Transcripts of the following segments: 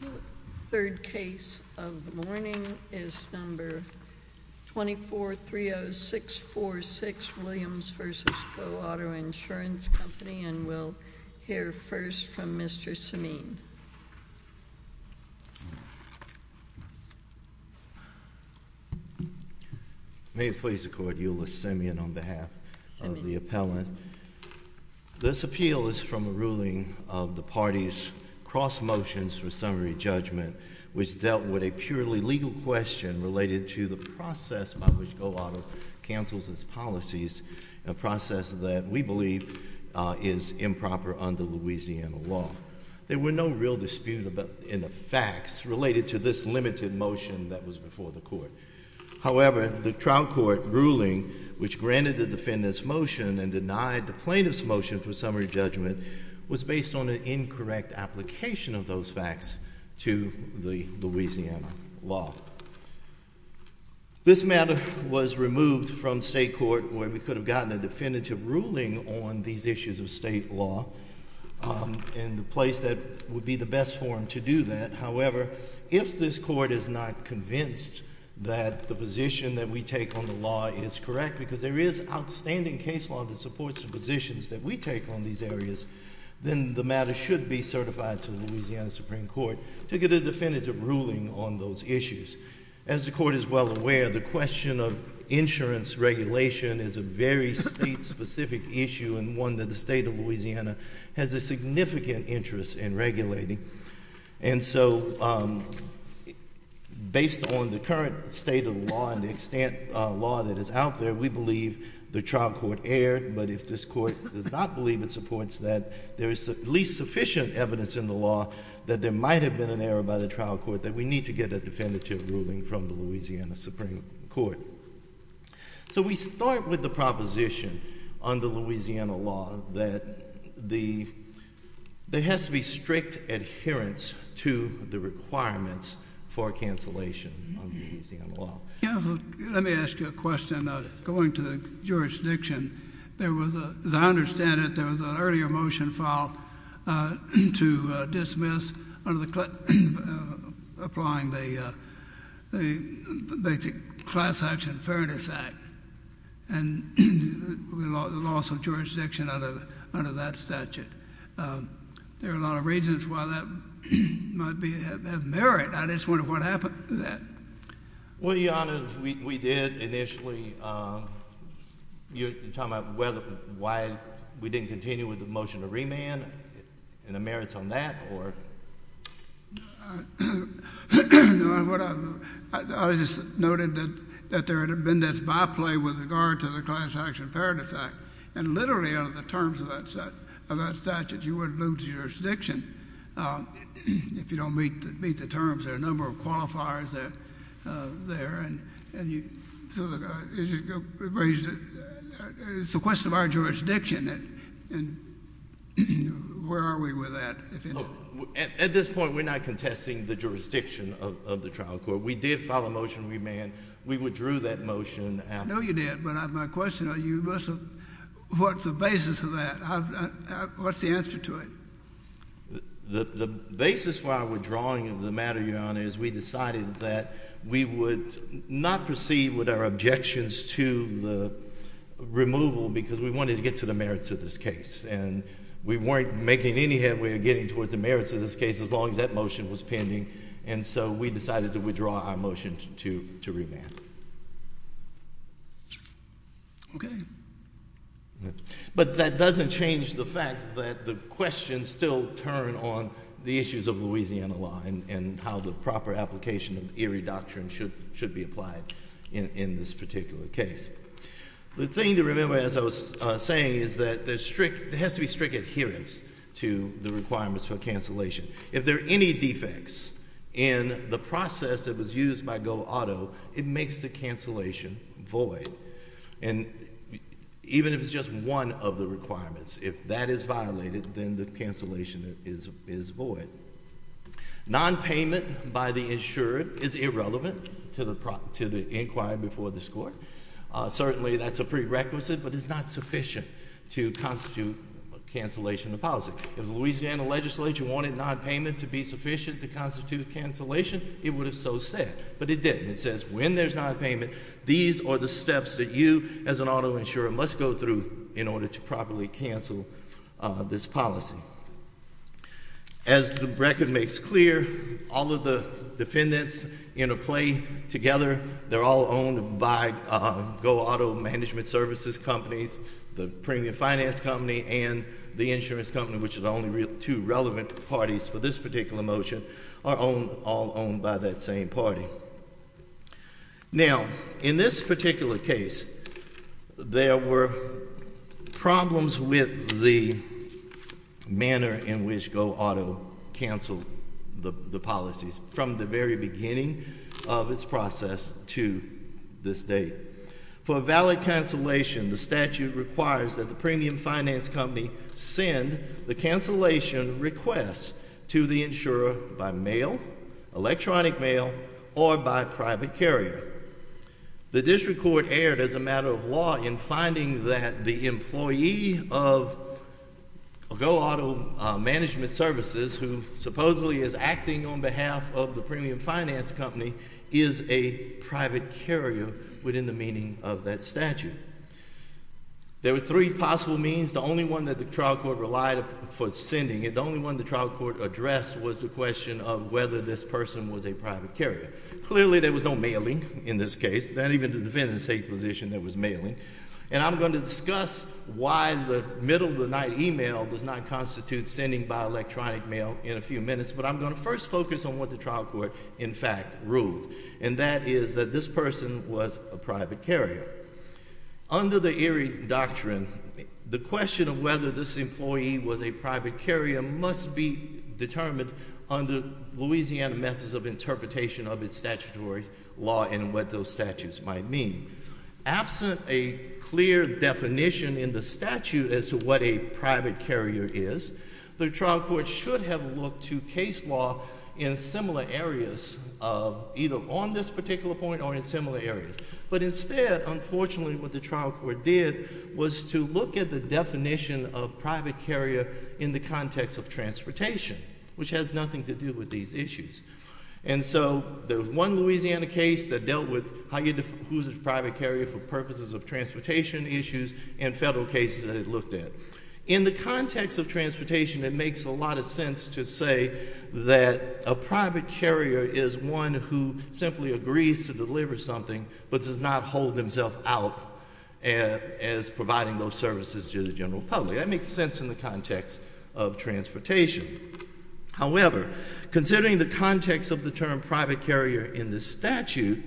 The third case of the morning is number 2430646, Williams v. GoAuto Insurance Company and we'll hear first from Mr. Simeon. May it please the court, Euless Simeon on behalf of the appellant. This appeal is from a ruling of the party's cross motions for summary judgment which dealt with a purely legal question related to the process by which GoAuto cancels its policies, a process that we believe is improper under Louisiana law. There were no real disputes in the facts related to this limited motion that was before the court. However, the trial court ruling which granted the defendant's motion and denied the plaintiff's motion for summary judgment was based on an incorrect application of those facts to the Louisiana law. This matter was removed from state court where we could have gotten a definitive ruling on these issues of state law and the place that would be the best forum to do that. However, if this court is not convinced that the position that we take on the law is correct, because there is outstanding case law that supports the positions that we take on these areas, then the matter should be certified to Louisiana Supreme Court to get a definitive ruling on those issues. As the court is well aware, the question of insurance regulation is a very state specific issue and one that the state of Louisiana has a significant interest in regulating. And so, based on the current state of the law and the extent of law that is out there, we believe the trial court erred. But if this court does not believe it supports that, there is at least sufficient evidence in the law that there might have been an error by the trial court that we need to get a definitive ruling from the Louisiana Supreme Court. So we start with the proposition under Louisiana law that there has to be strict adherence to the requirements for cancellation under Louisiana law. Let me ask you a question. Going to the jurisdiction, as I understand it, there was an earlier motion filed to dismiss applying the Basic Class Action Fairness Act. And the loss of jurisdiction under that statute. There are a lot of reasons why that might have merit. I just wonder what happened to that. Well, Your Honor, we did initially. You're talking about why we didn't continue with the motion to remand, and the merits on that, or? I just noted that there had been this by-play with regard to the Class Action Fairness Act. And literally, under the terms of that statute, you would lose jurisdiction if you don't meet the terms. There are a number of qualifiers there. And it's a question of our jurisdiction, and where are we with that? At this point, we're not contesting the jurisdiction of the trial court. We did file a motion to remand. We withdrew that motion. I know you did, but my question to you is, what's the basis of that? What's the answer to it? The basis why we're drawing the matter, Your Honor, is we decided that we would not proceed with our objections to the removal, because we wanted to get to the merits of this case. And we weren't making any headway of getting towards the merits of this case, as long as that motion was pending. And so we decided to withdraw our motion to remand. Okay. But that doesn't change the fact that the questions still turn on the issues of Louisiana law, and how the proper application of the Erie Doctrine should be applied in this particular case. The thing to remember, as I was saying, is that there has to be strict adherence to the requirements for cancellation. If there are any defects in the process that was used by Go Auto, it makes the cancellation void. And even if it's just one of the requirements, if that is violated, then the cancellation is void. Non-payment by the insured is irrelevant to the inquiry before this court. Certainly, that's a prerequisite, but it's not sufficient to constitute cancellation of policy. If the Louisiana legislature wanted non-payment to be sufficient to constitute cancellation, it would have so said. But it didn't. It says when there's non-payment, these are the steps that you, as an auto insurer, must go through in order to properly cancel this policy. As the record makes clear, all of the defendants in a play together, they're all owned by Go Auto Management Services companies. The premium finance company and the insurance company, which is the only two relevant parties for this particular motion, are all owned by that same party. Now, in this particular case, there were problems with the manner in which Go Auto canceled the policies from the very beginning of its process to this day. For a valid cancellation, the statute requires that the premium finance company send the cancellation request to the insurer by mail, electronic mail, or by private carrier. The district court erred, as a matter of law, in finding that the employee of Go Auto Management Services, who supposedly is acting on behalf of the premium finance company, is a private carrier within the meaning of that statute. There were three possible means. The only one that the trial court relied for sending, and the only one the trial court addressed, was the question of whether this person was a private carrier. Clearly, there was no mailing in this case, not even the defendant's safe position there was mailing. And I'm going to discuss why the middle of the night email does not constitute sending by electronic mail in a few minutes. But I'm going to first focus on what the trial court, in fact, ruled. And that is that this person was a private carrier. Under the Erie Doctrine, the question of whether this employee was a private carrier must be determined under Louisiana methods of interpretation of its statutory law and what those statutes might mean. Absent a clear definition in the statute as to what a private carrier is, the trial court should have looked to case law in similar areas, either on this particular point or in similar areas. But instead, unfortunately, what the trial court did was to look at the definition of private carrier in the context of transportation. Which has nothing to do with these issues. And so, the one Louisiana case that dealt with who's a private carrier for purposes of transportation issues and federal cases that it looked at. In the context of transportation, it makes a lot of sense to say that a private carrier is one who simply agrees to deliver something but does not hold himself out as providing those services to the general public. That makes sense in the context of transportation. However, considering the context of the term private carrier in this statute,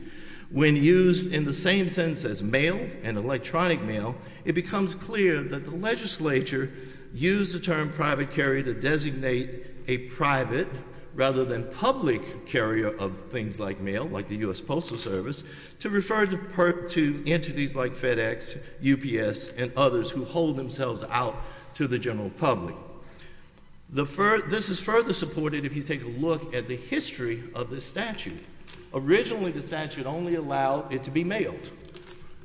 when used in the same sense as mail and electronic mail, it becomes clear that the legislature used the term private carrier to designate a private rather than public carrier of things like mail, like the US Postal Service, to refer to entities like FedEx, UPS, and others who hold themselves out to the general public. This is further supported if you take a look at the history of this statute. Originally, the statute only allowed it to be mailed.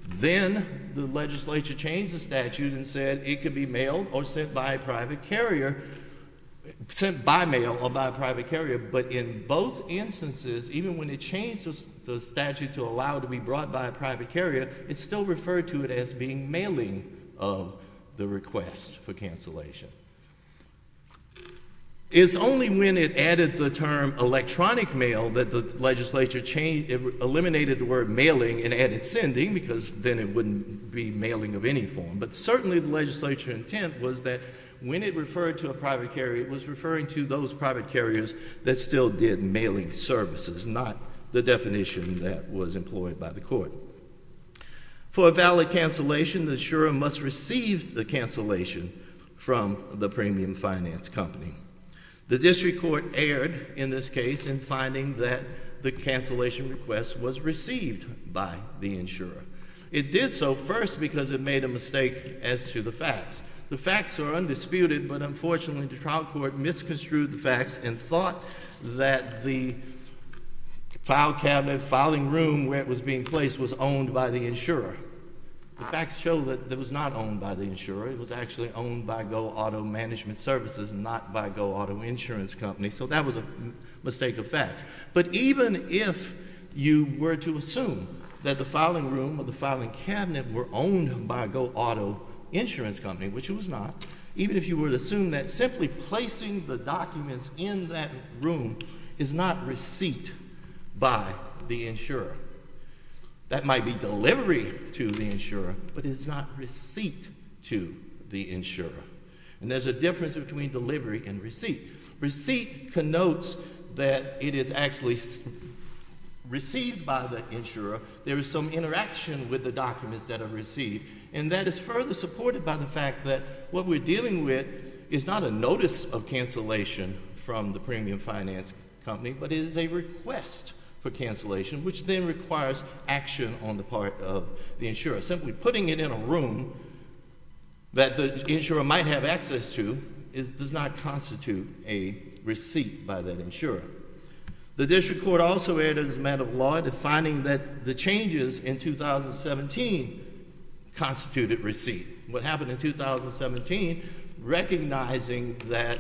Then, the legislature changed the statute and said it could be mailed or sent by a private carrier. Sent by mail or by a private carrier, but in both instances, even when it changed the statute to allow it to be brought by a private carrier, it still referred to it as being mailing of the request for cancellation. It's only when it added the term electronic mail that the legislature changed, it eliminated the word mailing and added sending because then it wouldn't be mailing of any form. But certainly, the legislature intent was that when it referred to a private carrier, it was referring to those private carriers that still did mailing services, not the definition that was employed by the court. For a valid cancellation, the insurer must receive the cancellation from the premium finance company. The district court erred in this case in finding that the cancellation request was received by the insurer. It did so first because it made a mistake as to the facts. The facts are undisputed, but unfortunately, the trial court misconstrued the facts and thought that the file cabinet, filing room where it was being placed was owned by the insurer. The facts show that it was not owned by the insurer. It was actually owned by Go Auto Management Services, not by Go Auto Insurance Company. So that was a mistake of facts. But even if you were to assume that the filing room or the filing cabinet were owned by Go Auto Insurance Company, which it was not, even if you were to assume that simply placing the documents in that room is not receipt by the insurer, that might be delivery to the insurer, but it is not receipt to the insurer. And there's a difference between delivery and receipt. Receipt connotes that it is actually received by the insurer. There is some interaction with the documents that are received, and that is further supported by the fact that what we're dealing with is not a notice of cancellation from the premium finance company, but it is a request for cancellation, which then requires action on the part of the insurer. Simply putting it in a room that the insurer might have access to does not constitute a receipt by that insurer. The district court also erred as a matter of law in finding that the changes in 2017 constituted receipt. What happened in 2017, recognizing that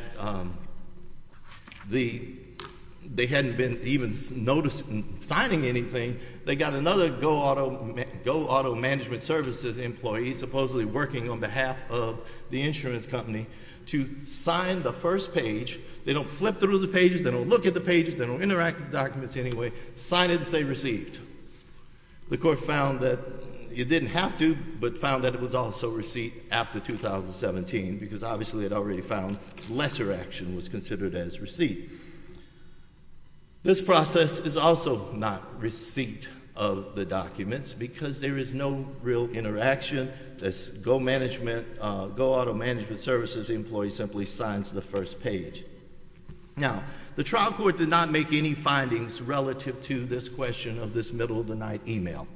they hadn't been even signing anything, they got another Go Auto Management Services employee supposedly working on behalf of the insurance company to sign the first page. They don't flip through the pages, they don't look at the pages, they don't interact with the documents anyway. Sign it and say received. The court found that it didn't have to, but found that it was also receipt after 2017, because obviously it already found lesser action was considered as receipt. This process is also not receipt of the documents because there is no real interaction. This Go Auto Management Services employee simply signs the first page. Now, the trial court did not make any findings relative to this question of this middle of the night email.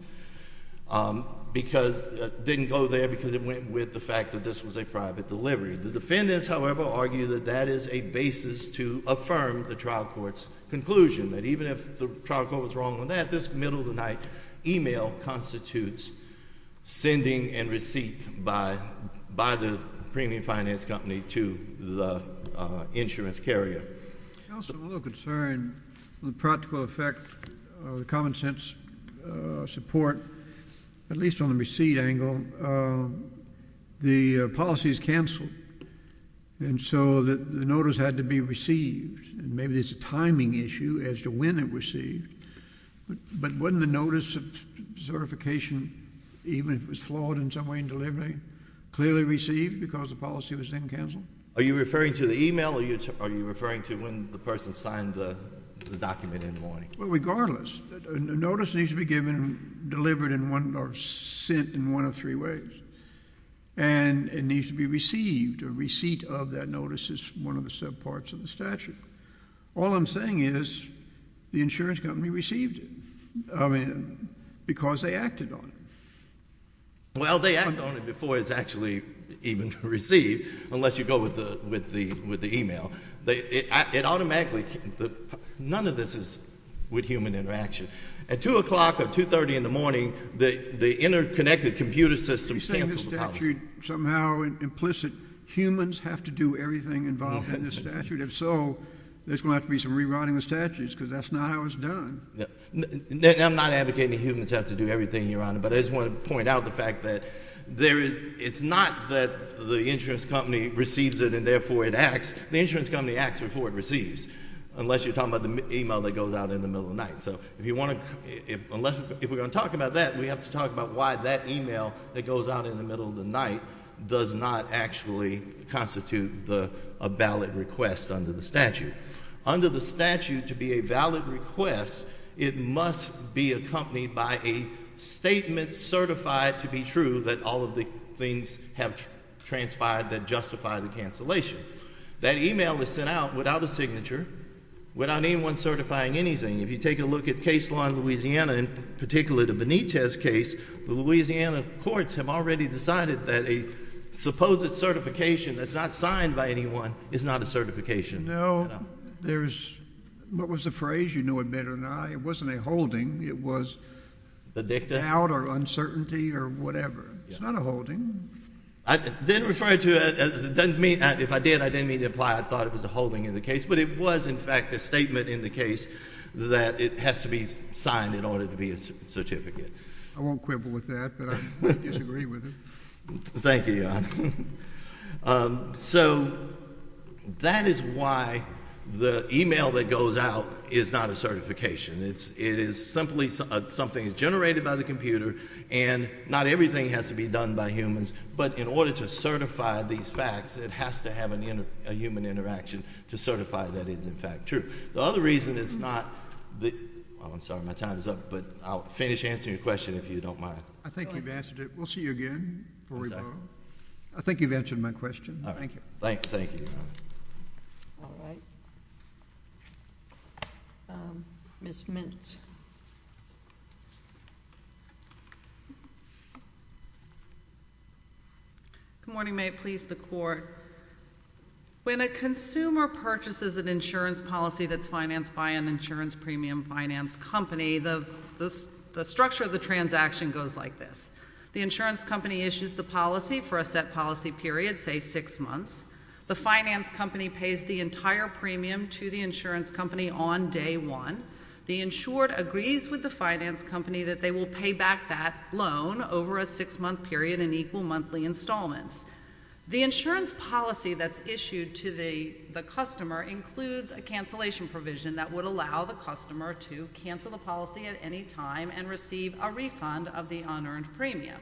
It didn't go there because it went with the fact that this was a private delivery. The defendants, however, argue that that is a basis to affirm the trial court's conclusion, that even if the trial court was wrong on that, this middle of the night email constitutes sending and receipt by the premium finance company to the insurance carrier. Counsel, I'm a little concerned with the practical effect of the common sense support, at least on the receipt angle. The policy is canceled, and so the notice had to be received. Maybe there's a timing issue as to when it was received. But wasn't the notice of certification, even if it was flawed in some way in delivery, clearly received because the policy was then canceled? Are you referring to the email or are you referring to when the person signed the document in the morning? Well, regardless, a notice needs to be given, delivered, or sent in one of three ways. And it needs to be received. A receipt of that notice is one of the subparts of the statute. All I'm saying is the insurance company received it because they acted on it. Well, they act on it before it's actually even received, unless you go with the email. It automatically – none of this is with human interaction. At 2 o'clock or 2.30 in the morning, the interconnected computer systems cancel the policy. Are you saying this statute somehow implicit humans have to do everything involved in this statute? If so, there's going to have to be some rewriting of the statute because that's not how it's done. I'm not advocating humans have to do everything, Your Honor, but I just want to point out the fact that there is – it's not that the insurance company receives it and therefore it acts. The insurance company acts before it receives, unless you're talking about the email that goes out in the middle of the night. So if you want to – if we're going to talk about that, we have to talk about why that email that goes out in the middle of the night does not actually constitute a valid request under the statute. Under the statute, to be a valid request, it must be accompanied by a statement certified to be true that all of the things have transpired that justify the cancellation. That email is sent out without a signature, without anyone certifying anything. If you take a look at case law in Louisiana, in particular the Benitez case, the Louisiana courts have already decided that a supposed certification that's not signed by anyone is not a certification. No. There's – what was the phrase? You know it better than I. It wasn't a holding. It was doubt or uncertainty or whatever. It's not a holding. I didn't refer to it – it doesn't mean – if I did, I didn't mean to imply I thought it was a holding in the case, but it was, in fact, a statement in the case that it has to be signed in order to be a certificate. I won't quibble with that, but I disagree with it. Thank you, Your Honor. So that is why the email that goes out is not a certification. It is simply something that's generated by the computer, and not everything has to be done by humans, but in order to certify these facts, it has to have a human interaction to certify that it is, in fact, true. The other reason it's not – I'm sorry, my time is up, but I'll finish answering your question if you don't mind. I think you've answered it. We'll see you again before we vote. I think you've answered my question. Thank you. All right. Thank you, Your Honor. All right. Ms. Mintz. Good morning. May it please the Court. When a consumer purchases an insurance policy that's financed by an insurance premium finance company, the structure of the transaction goes like this. The insurance company issues the policy for a set policy period, say six months. The finance company pays the entire premium to the insurance company on day one. The insured agrees with the finance company that they will pay back that loan over a six-month period and equal monthly installments. The insurance policy that's issued to the customer includes a cancellation provision that would allow the customer to cancel the policy at any time and receive a refund of the unearned premium.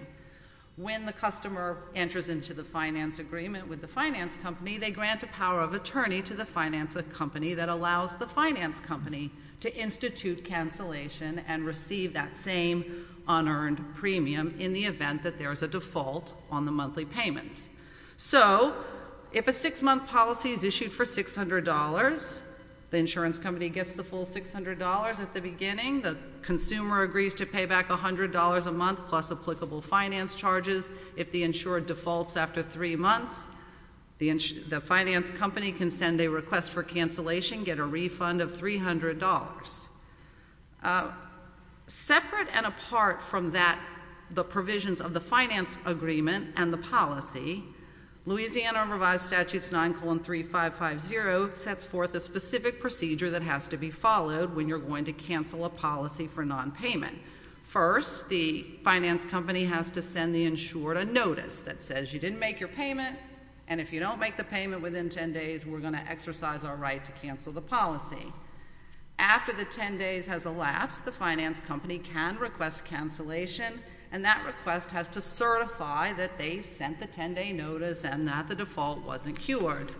When the customer enters into the finance agreement with the finance company, they grant a power of attorney to the finance company that allows the finance company to institute cancellation and receive that same unearned premium in the event that there is a default on the monthly payments. So if a six-month policy is issued for $600, the insurance company gets the full $600 at the beginning. The consumer agrees to pay back $100 a month plus applicable finance charges. If the insured defaults after three months, the finance company can send a request for cancellation, get a refund of $300. Separate and apart from that, the provisions of the finance agreement and the policy, Louisiana Revised Statutes 9-3-5-5-0 sets forth a specific procedure that has to be followed when you're going to cancel a policy for nonpayment. First, the finance company has to send the insured a notice that says you didn't make your payment, and if you don't make the payment within 10 days, we're going to exercise our right to cancel the policy. After the 10 days has elapsed, the finance company can request cancellation, and that request has to certify that they sent the 10-day notice and that the default wasn't cured.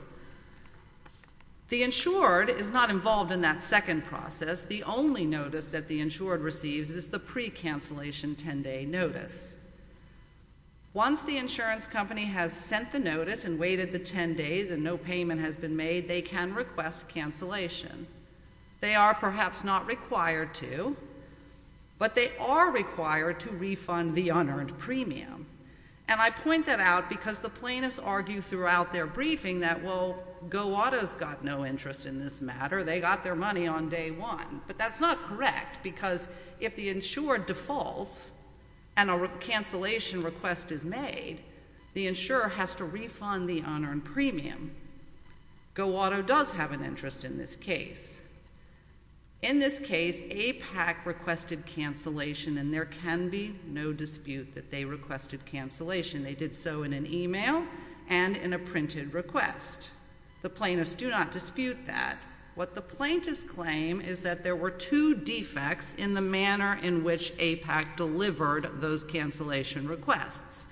The insured is not involved in that second process. The only notice that the insured receives is the pre-cancellation 10-day notice. Once the insurance company has sent the notice and waited the 10 days and no payment has been made, they can request cancellation. They are perhaps not required to, but they are required to refund the unearned premium, and I point that out because the plaintiffs argue throughout their briefing that, well, Go Auto's got no interest in this matter. They got their money on day one, but that's not correct because if the insured defaults and a cancellation request is made, the insurer has to refund the unearned premium. Go Auto does have an interest in this case. In this case, APAC requested cancellation, and there can be no dispute that they requested cancellation. They did so in an e-mail and in a printed request. The plaintiffs do not dispute that. What the plaintiffs claim is that there were two defects in the manner in which APAC delivered those cancellation requests.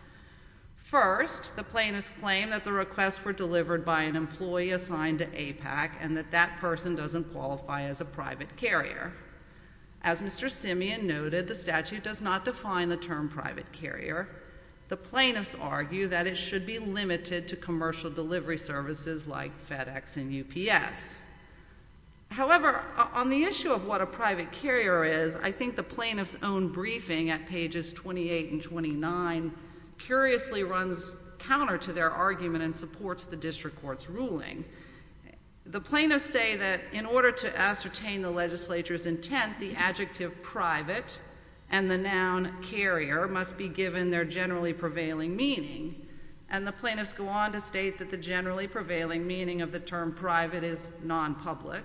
First, the plaintiffs claim that the requests were delivered by an employee assigned to APAC and that that person doesn't qualify as a private carrier. As Mr. Simeon noted, the statute does not define the term private carrier. The plaintiffs argue that it should be limited to commercial delivery services like FedEx and UPS. However, on the issue of what a private carrier is, I think the plaintiffs' own briefing at pages 28 and 29 curiously runs counter to their argument and supports the district court's ruling. The plaintiffs say that in order to ascertain the legislature's intent, the adjective private and the noun carrier must be given their generally prevailing meaning, and the plaintiffs go on to state that the generally prevailing meaning of the term private is nonpublic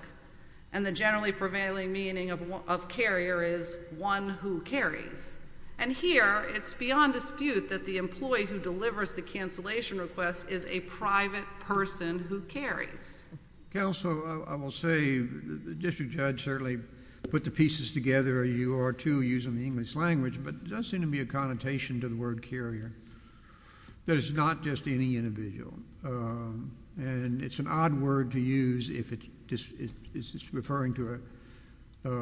and the generally prevailing meaning of carrier is one who carries. And here, it's beyond dispute that the employee who delivers the cancellation request is a private person who carries. Counsel, I will say the district judge certainly put the pieces together, you are too, using the English language, but there does seem to be a connotation to the word carrier that it's not just any individual, and it's an odd word to use if it's referring to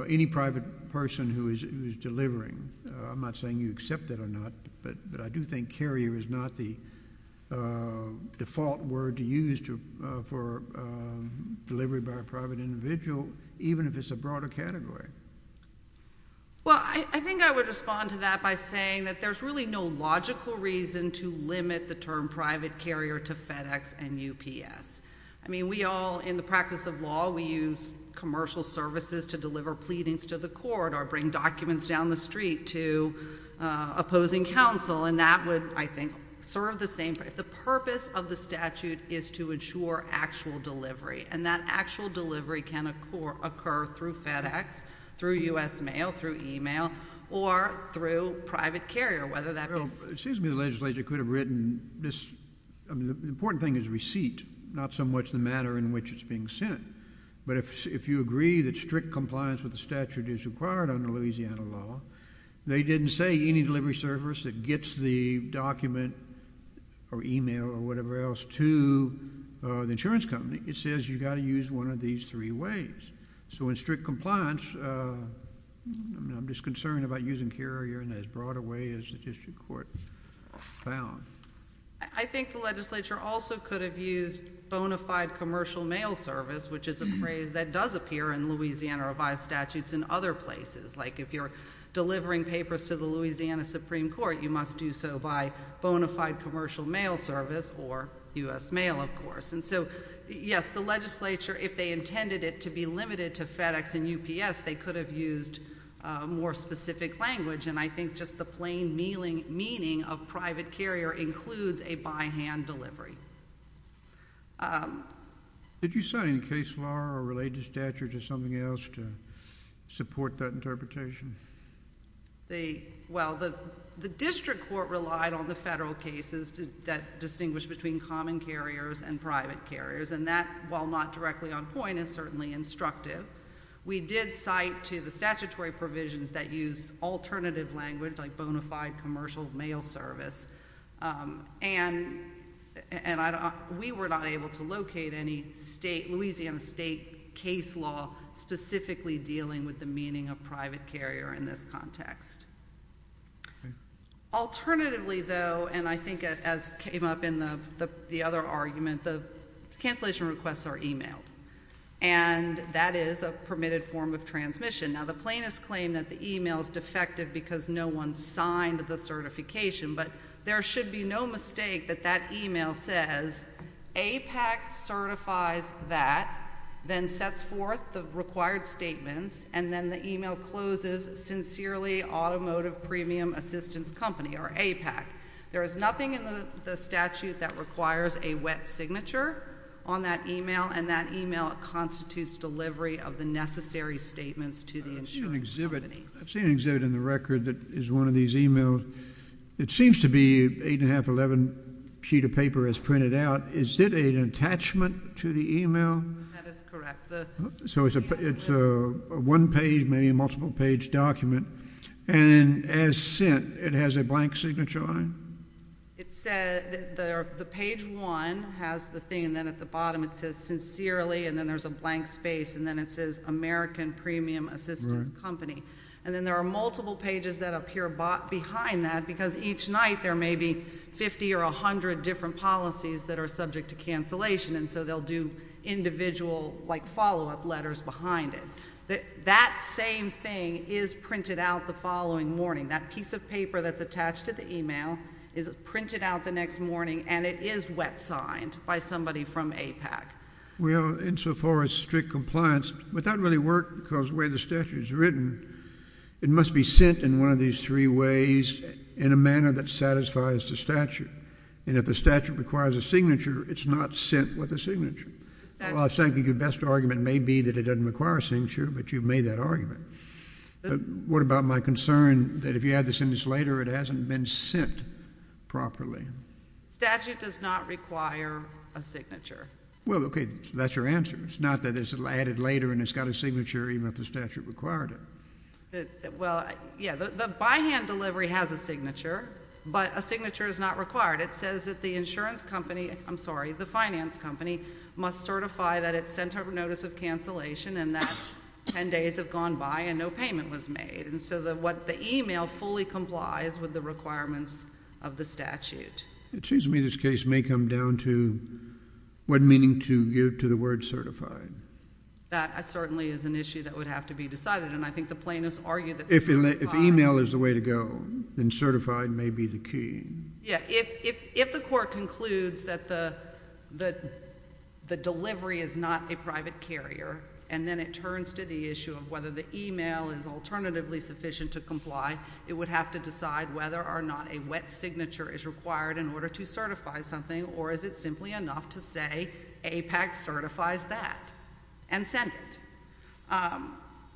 any private person who is delivering. I'm not saying you accept that or not, but I do think carrier is not the default word to use for delivery by a private individual, even if it's a broader category. Well, I think I would respond to that by saying that there's really no logical reason to limit the term private carrier to FedEx and UPS. I mean, we all, in the practice of law, we use commercial services to deliver pleadings to the court or bring documents down the street to opposing counsel, and that would, I think, serve the same purpose. The purpose of the statute is to ensure actual delivery, and that actual delivery can occur through FedEx, through U.S. Mail, through email, or through private carrier, whether that be... Well, it seems to me the legislature could have written this... I mean, the important thing is receipt, not so much the matter in which it's being sent. But if you agree that strict compliance with the statute is required under Louisiana law, they didn't say any delivery service that gets the document or email or whatever else to the insurance company. It says you've got to use one of these three ways. So in strict compliance, I'm just concerned about using carrier in as broad a way as the district court found. I think the legislature also could have used bona fide commercial mail service, which is a phrase that does appear in Louisiana revised statutes in other places. Like, if you're delivering papers to the Louisiana Supreme Court, you must do so by bona fide commercial mail service, or U.S. Mail, of course. And so, yes, the legislature, if they intended it to be limited to FedEx and UPS, they could have used more specific language. And I think just the plain meaning of private carrier includes a by-hand delivery. Did you cite any case law or related statute or something else to support that interpretation? Well, the district court relied on the federal cases that distinguish between common carriers and private carriers. And that, while not directly on point, is certainly instructive. We did cite to the statutory provisions that use alternative language, like bona fide commercial mail service. And we were not able to locate any Louisiana state case law specifically dealing with the meaning of private carrier in this context. Alternatively, though, and I think as came up in the other argument, the cancellation requests are emailed. And that is a permitted form of transmission. Now, the plaintiffs claim that the email is defective because no one signed the certification, but there should be no mistake that that email says APAC certifies that, then sets forth the required statements, and then the email closes Sincerely Automotive Premium Assistance Company, or APAC. There is nothing in the statute that requires a wet signature on that email, and that email constitutes delivery of the necessary statements to the insurance company. I've seen an exhibit in the record that is one of these emails. It seems to be an 8.511 sheet of paper as printed out. Is it an attachment to the email? That is correct. So it's a one-page, maybe a multiple-page document. And as sent, it has a blank signature on it? The page one has the thing, and then at the bottom it says Sincerely, and then there's a blank space, and then it says American Premium Assistance Company. And then there are multiple pages that appear behind that because each night there may be 50 or 100 different policies that are subject to cancellation, and so they'll do individual follow-up letters behind it. That same thing is printed out the following morning. That piece of paper that's attached to the email is printed out the next morning, and it is wet signed by somebody from APAC. Well, insofar as strict compliance, that doesn't really work because the way the statute is written, it must be sent in one of these three ways in a manner that satisfies the statute. And if the statute requires a signature, it's not sent with a signature. Well, I think your best argument may be that it doesn't require a signature, but you've made that argument. What about my concern that if you add the signature later, it hasn't been sent properly? The statute does not require a signature. Well, okay, that's your answer. It's not that it's added later and it's got a signature even if the statute required it. Well, yeah, the by-hand delivery has a signature, but a signature is not required. It says that the insurance company, I'm sorry, the finance company, must certify that it's sent over notice of cancellation and that 10 days have gone by and no payment was made. And so what the email fully complies with the requirements of the statute. It seems to me this case may come down to what meaning to give to the word certified. That certainly is an issue that would have to be decided, and I think the plaintiffs argue that certifying. If email is the way to go, then certified may be the key. Yeah. If the court concludes that the delivery is not a private carrier, and then it turns to the issue of whether the email is alternatively sufficient to comply, it would have to decide whether or not a wet signature is required in order to certify something, or is it simply enough to say APAC certifies that and send it.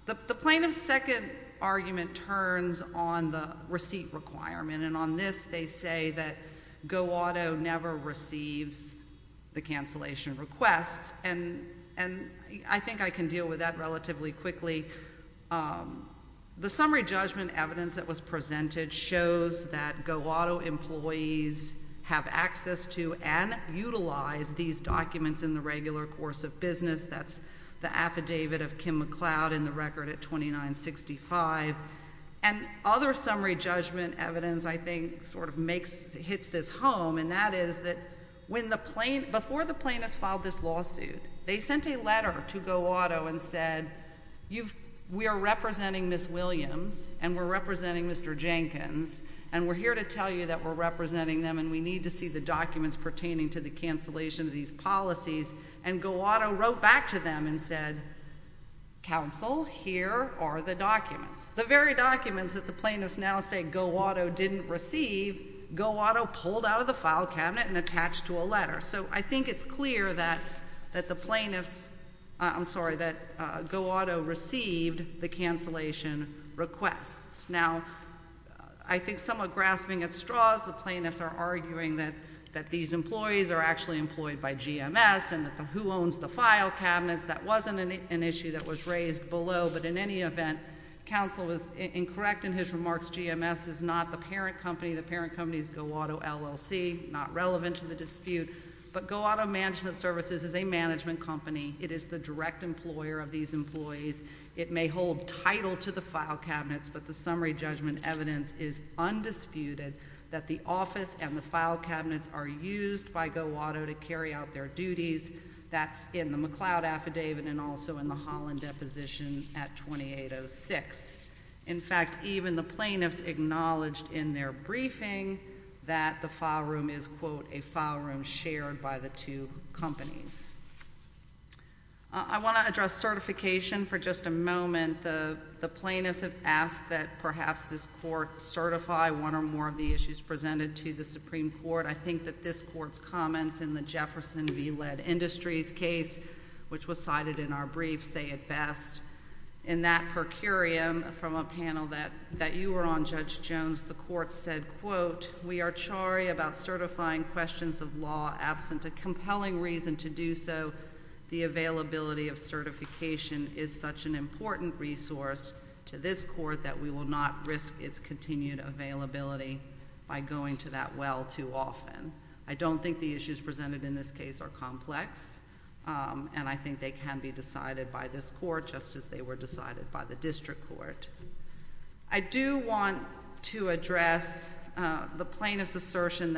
The plaintiff's second argument turns on the receipt requirement, and on this they say that Go Auto never receives the cancellation requests, and I think I can deal with that relatively quickly. The summary judgment evidence that was presented shows that Go Auto employees have access to and utilize these documents in the regular course of business. That's the affidavit of Kim McLeod in the record at 2965. And other summary judgment evidence I think sort of hits this home, and that is that before the plaintiffs filed this lawsuit, they sent a letter to Go Auto and said, We are representing Ms. Williams and we're representing Mr. Jenkins, and we're here to tell you that we're representing them and we need to see the documents pertaining to the cancellation of these policies, and Go Auto wrote back to them and said, Counsel, here are the documents. The very documents that the plaintiffs now say Go Auto didn't receive, Go Auto pulled out of the file cabinet and attached to a letter. So I think it's clear that the plaintiffs, I'm sorry, that Go Auto received the cancellation requests. Now, I think somewhat grasping at straws, the plaintiffs are arguing that these employees are actually employed by GMS and that the who owns the file cabinets, that wasn't an issue that was raised below, but in any event, counsel was incorrect in his remarks. GMS is not the parent company. The parent company is Go Auto LLC, not relevant to the dispute, but Go Auto Management Services is a management company. It is the direct employer of these employees. It may hold title to the file cabinets, but the summary judgment evidence is undisputed that the office and the file cabinets are used by Go Auto to carry out their duties. That's in the McLeod Affidavit and also in the Holland Deposition at 2806. In fact, even the plaintiffs acknowledged in their briefing that the file room is, quote, a file room shared by the two companies. I want to address certification for just a moment. The plaintiffs have asked that perhaps this Court certify one or more of the issues presented to the Supreme Court. I think that this Court's comments in the Jefferson v. Lead Industries case, which was cited in our brief, say it best. In that per curiam from a panel that you were on, Judge Jones, the Court said, quote, we are charry about certifying questions of law absent a compelling reason to do so. The availability of certification is such an important resource to this Court that we will not risk its continued availability by going to that well too often. I don't think the issues presented in this case are complex, and I think they can be decided by this Court, just as they were decided by the District Court. I do want to address the plaintiff's assertion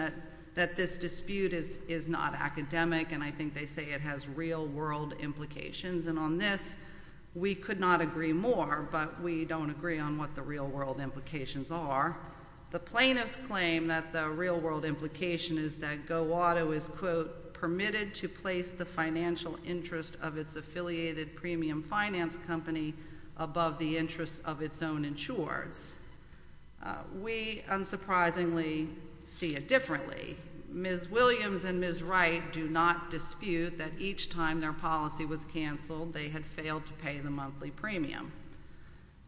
that this dispute is not academic, and I think they say it has real-world implications. And on this, we could not agree more, but we don't agree on what the real-world implications are. The plaintiffs claim that the real-world implication is that GoWATO is, quote, permitted to place the financial interest of its affiliated premium finance company above the interest of its own insurers. We, unsurprisingly, see it differently. Ms. Williams and Ms. Wright do not dispute that each time their policy was canceled, they had failed to pay the monthly premium.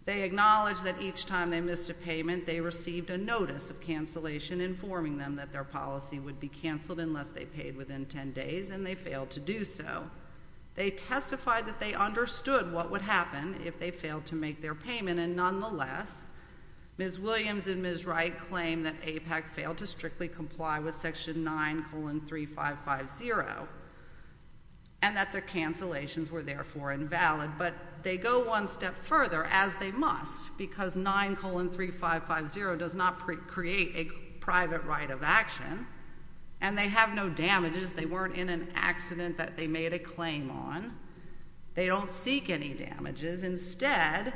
They acknowledge that each time they missed a payment, they received a notice of cancellation informing them that their policy would be canceled unless they paid within 10 days, and they failed to do so. They testified that they understood what would happen if they failed to make their payment, and nonetheless, Ms. Williams and Ms. Wright claim that APAC failed to strictly comply with Section 9, colon, 3550, and that their cancellations were, therefore, invalid. But they go one step further, as they must, because 9, colon, 3550 does not create a private right of action, and they have no damages. They weren't in an accident that they made a claim on. They don't seek any damages. Instead,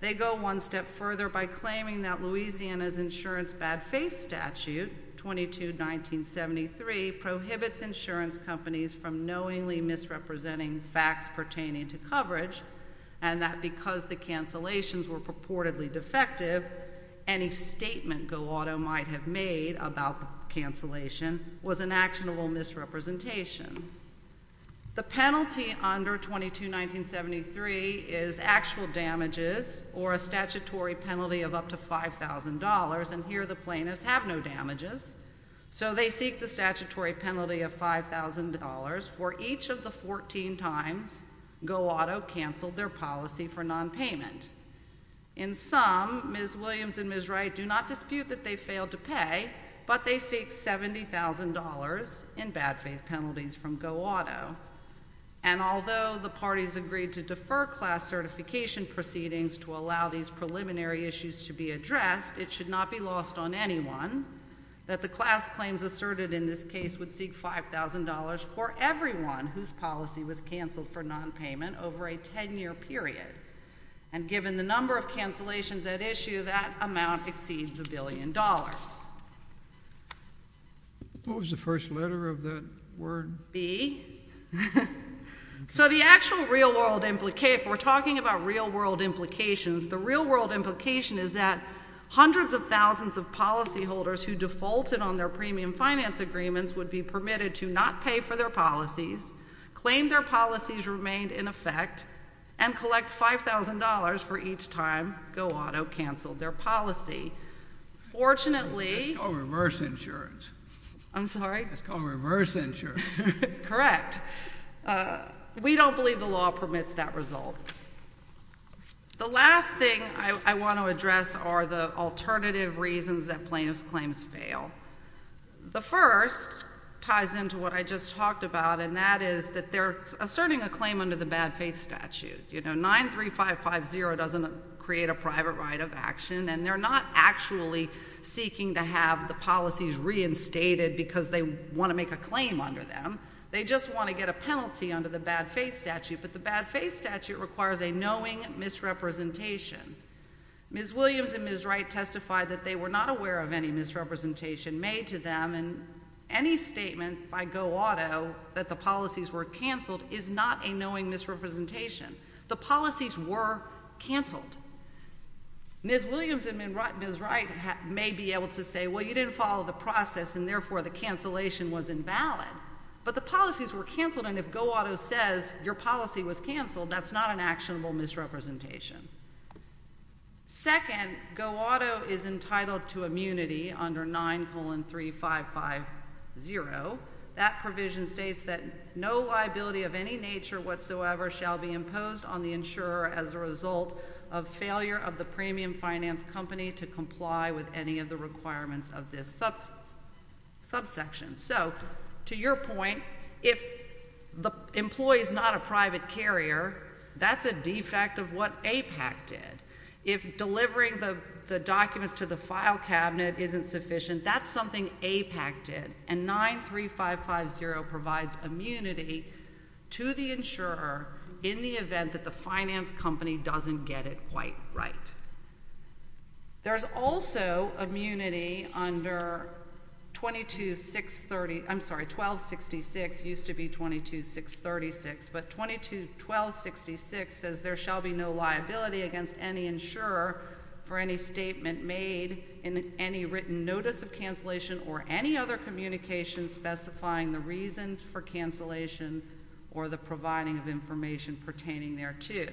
they go one step further by claiming that Louisiana's insurance bad-faith statute, 22-1973, prohibits insurance companies from knowingly misrepresenting facts pertaining to coverage, and that because the cancellations were purportedly defective, any statement Go Auto might have made about the cancellation was an actionable misrepresentation. The penalty under 22-1973 is actual damages or a statutory penalty of up to $5,000, and here the plaintiffs have no damages, so they seek the statutory penalty of $5,000 for each of the 14 times Go Auto canceled their policy for nonpayment. In sum, Ms. Williams and Ms. Wright do not dispute that they failed to pay, but they seek $70,000 in bad-faith penalties from Go Auto, and although the parties agreed to defer class certification proceedings to allow these preliminary issues to be addressed, it should not be lost on anyone that the class claims asserted in this case would seek $5,000 for everyone whose policy was canceled for nonpayment over a 10-year period, and given the number of cancellations at issue, that amount exceeds $1 billion. What was the first letter of that word? B. So the actual real-world implication, if we're talking about real-world implications, the real-world implication is that hundreds of thousands of policyholders who defaulted on their premium finance agreements would be permitted to not pay for their policies, claim their policies remained in effect, and collect $5,000 for each time Go Auto canceled their policy. Fortunately— It's called reverse insurance. I'm sorry? It's called reverse insurance. Correct. We don't believe the law permits that result. The last thing I want to address are the alternative reasons that plaintiff's claims fail. The first ties into what I just talked about, and that is that they're asserting a claim under the bad faith statute. You know, 93550 doesn't create a private right of action, and they're not actually seeking to have the policies reinstated because they want to make a claim under them. They just want to get a penalty under the bad faith statute, but the bad faith statute requires a knowing misrepresentation. Ms. Williams and Ms. Wright testified that they were not aware of any misrepresentation made to them, and any statement by Go Auto that the policies were canceled is not a knowing misrepresentation. The policies were canceled. Ms. Williams and Ms. Wright may be able to say, well, you didn't follow the process, and therefore the cancellation was invalid, but the policies were canceled, and if Go Auto says your policy was canceled, that's not an actionable misrepresentation. Second, Go Auto is entitled to immunity under 93550. That provision states that no liability of any nature whatsoever shall be imposed on the insurer as a result of failure of the premium finance company to comply with any of the requirements of this subsection. So to your point, if the employee is not a private carrier, that's a defect of what APAC did. If delivering the documents to the file cabinet isn't sufficient, that's something APAC did, and 93550 provides immunity to the insurer in the event that the finance company doesn't get it quite right. There's also immunity under 1266. It used to be 22636, but 1266 says there shall be no liability against any insurer for any statement made in any written notice of cancellation or any other communication specifying the reasons for cancellation or the providing of information pertaining thereto.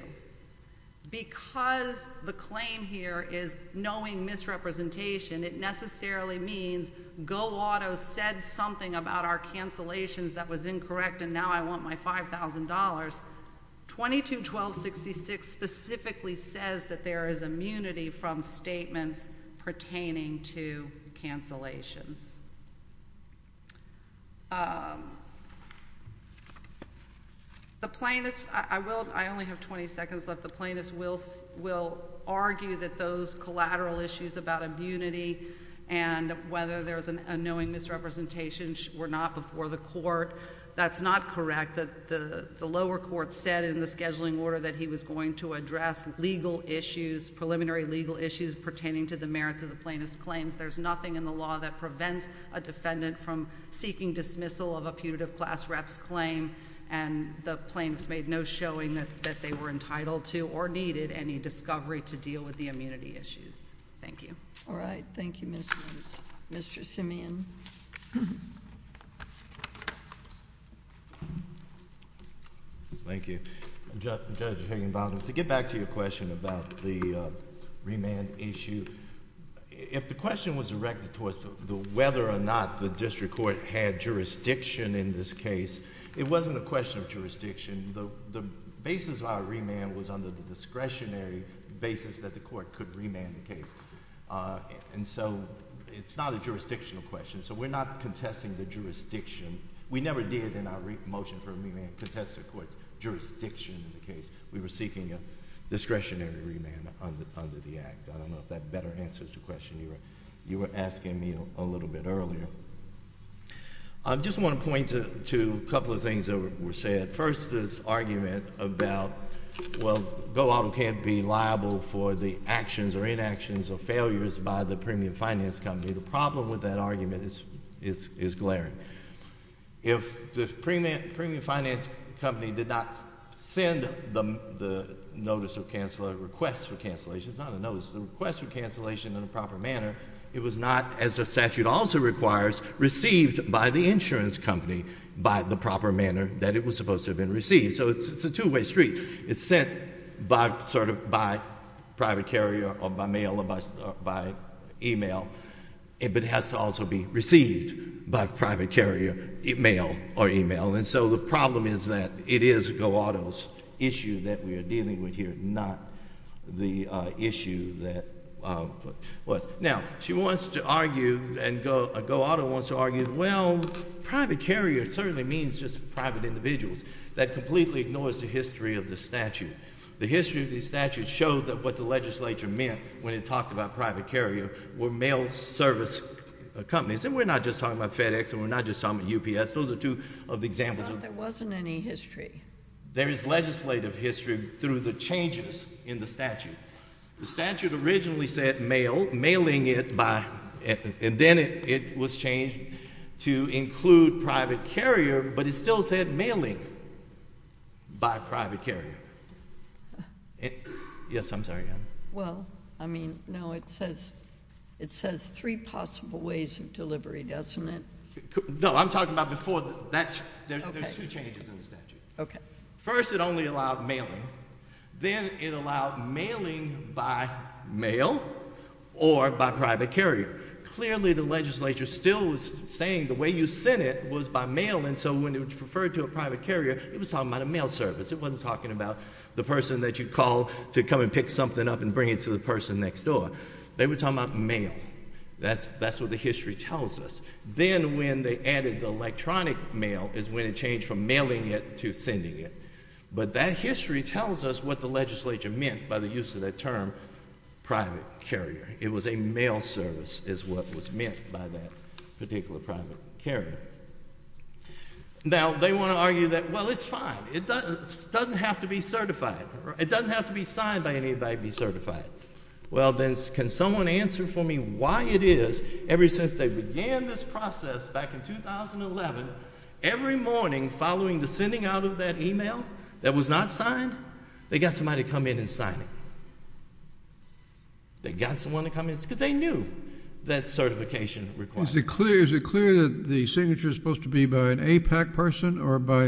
Because the claim here is knowing misrepresentation, it necessarily means Go Auto said something about our cancellations that was incorrect and now I want my $5,000. 221266 specifically says that there is immunity from statements pertaining to cancellations. The plaintiff's, I will, I only have 20 seconds left. The plaintiff's will argue that those collateral issues about immunity and whether there's a knowing misrepresentation were not before the court. That's not correct. The lower court said in the scheduling order that he was going to address legal issues, preliminary legal issues pertaining to the merits of the plaintiff's claims. There's nothing in the law that prevents a defendant from seeking dismissal of a putative class rep's claim and the plaintiff's made no showing that they were entitled to or needed any discovery to deal with the immunity issues. Thank you. All right. Thank you, Mr. Simeon. Thank you. Judge Higginbottom, to get back to your question about the remand issue, if the question was directed towards whether or not the district court had jurisdiction in this case, it wasn't a question of jurisdiction. The basis of our remand was under the discretionary basis that the court could remand the case. And so it's not a jurisdictional question. So we're not contesting the jurisdiction. We never did in our motion for remand contest the court's jurisdiction in the case. We were seeking a discretionary remand under the act. I don't know if that better answers the question you were asking me a little bit earlier. I just want to point to a couple of things that were said. First, this argument about, well, Go Auto can't be liable for the actions or inactions or failures by the premium finance company. The problem with that argument is glaring. If the premium finance company did not send the notice of request for cancellation, it's not a notice, it's a request for cancellation in a proper manner, it was not, as the statute also requires, received by the insurance company by the proper manner that it was supposed to have been received. So it's a two-way street. It's sent by private carrier or by mail or by e-mail, but it has to also be received by private carrier, mail or e-mail. And so the problem is that it is Go Auto's issue that we are dealing with here, not the issue that was. Now, she wants to argue and Go Auto wants to argue, well, private carrier certainly means just private individuals. That completely ignores the history of the statute. The history of the statute showed that what the legislature meant when it talked about private carrier were mail service companies. And we're not just talking about FedEx and we're not just talking about UPS. Those are two of the examples. Well, there wasn't any history. There is legislative history through the changes in the statute. The statute originally said mail, mailing it by, and then it was changed to include private carrier, but it still said mailing by private carrier. Yes, I'm sorry. Well, I mean, no, it says three possible ways of delivery, doesn't it? No, I'm talking about before that, there's two changes in the statute. Okay. First, it only allowed mailing. Then it allowed mailing by mail or by private carrier. Clearly, the legislature still was saying the way you sent it was by mail, and so when it referred to a private carrier, it was talking about a mail service. It wasn't talking about the person that you call to come and pick something up and bring it to the person next door. They were talking about mail. That's what the history tells us. Then when they added the electronic mail is when it changed from mailing it to sending it. But that history tells us what the legislature meant by the use of that term private carrier. It was a mail service is what was meant by that particular private carrier. Now, they want to argue that, well, it's fine. It doesn't have to be certified. It doesn't have to be signed by anybody to be certified. Well, then can someone answer for me why it is, ever since they began this process back in 2011, every morning following the sending out of that email that was not signed, they got somebody to come in and sign it. They got someone to come in because they knew that certification requires it. Is it clear that the signature is supposed to be by an APAC person or by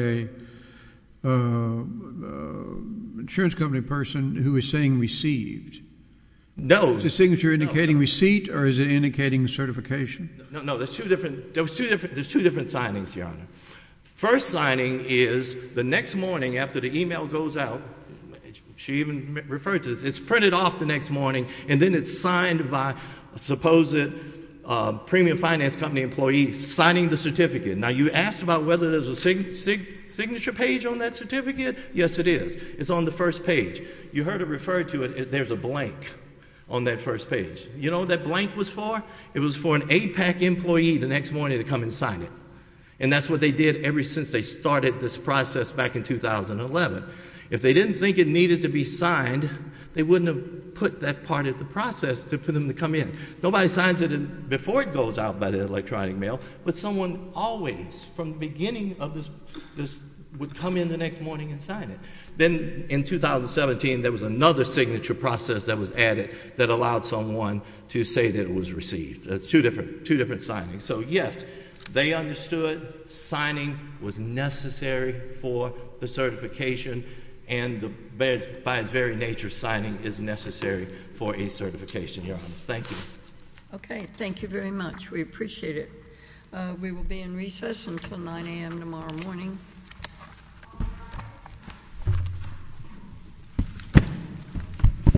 an insurance company person who is saying received? No. Is the signature indicating receipt or is it indicating certification? No. There's two different signings, Your Honor. First signing is the next morning after the email goes out, she even referred to this, it's printed off the next morning, and then it's signed by a supposed premium finance company employee signing the certificate. Now, you asked about whether there's a signature page on that certificate. Yes, it is. It's on the first page. You heard it referred to, there's a blank on that first page. You know what that blank was for? It was for an APAC employee the next morning to come and sign it. And that's what they did ever since they started this process back in 2011. If they didn't think it needed to be signed, they wouldn't have put that part of the process for them to come in. Nobody signs it before it goes out by the electronic mail, but someone always from the beginning of this would come in the next morning and sign it. Then in 2017, there was another signature process that was added that allowed someone to say that it was received. That's two different signings. So, yes, they understood signing was necessary for the certification, and by its very nature, signing is necessary for a certification here on this. Thank you. Okay. Thank you very much. We appreciate it. We will be in recess until 9 a.m. tomorrow morning.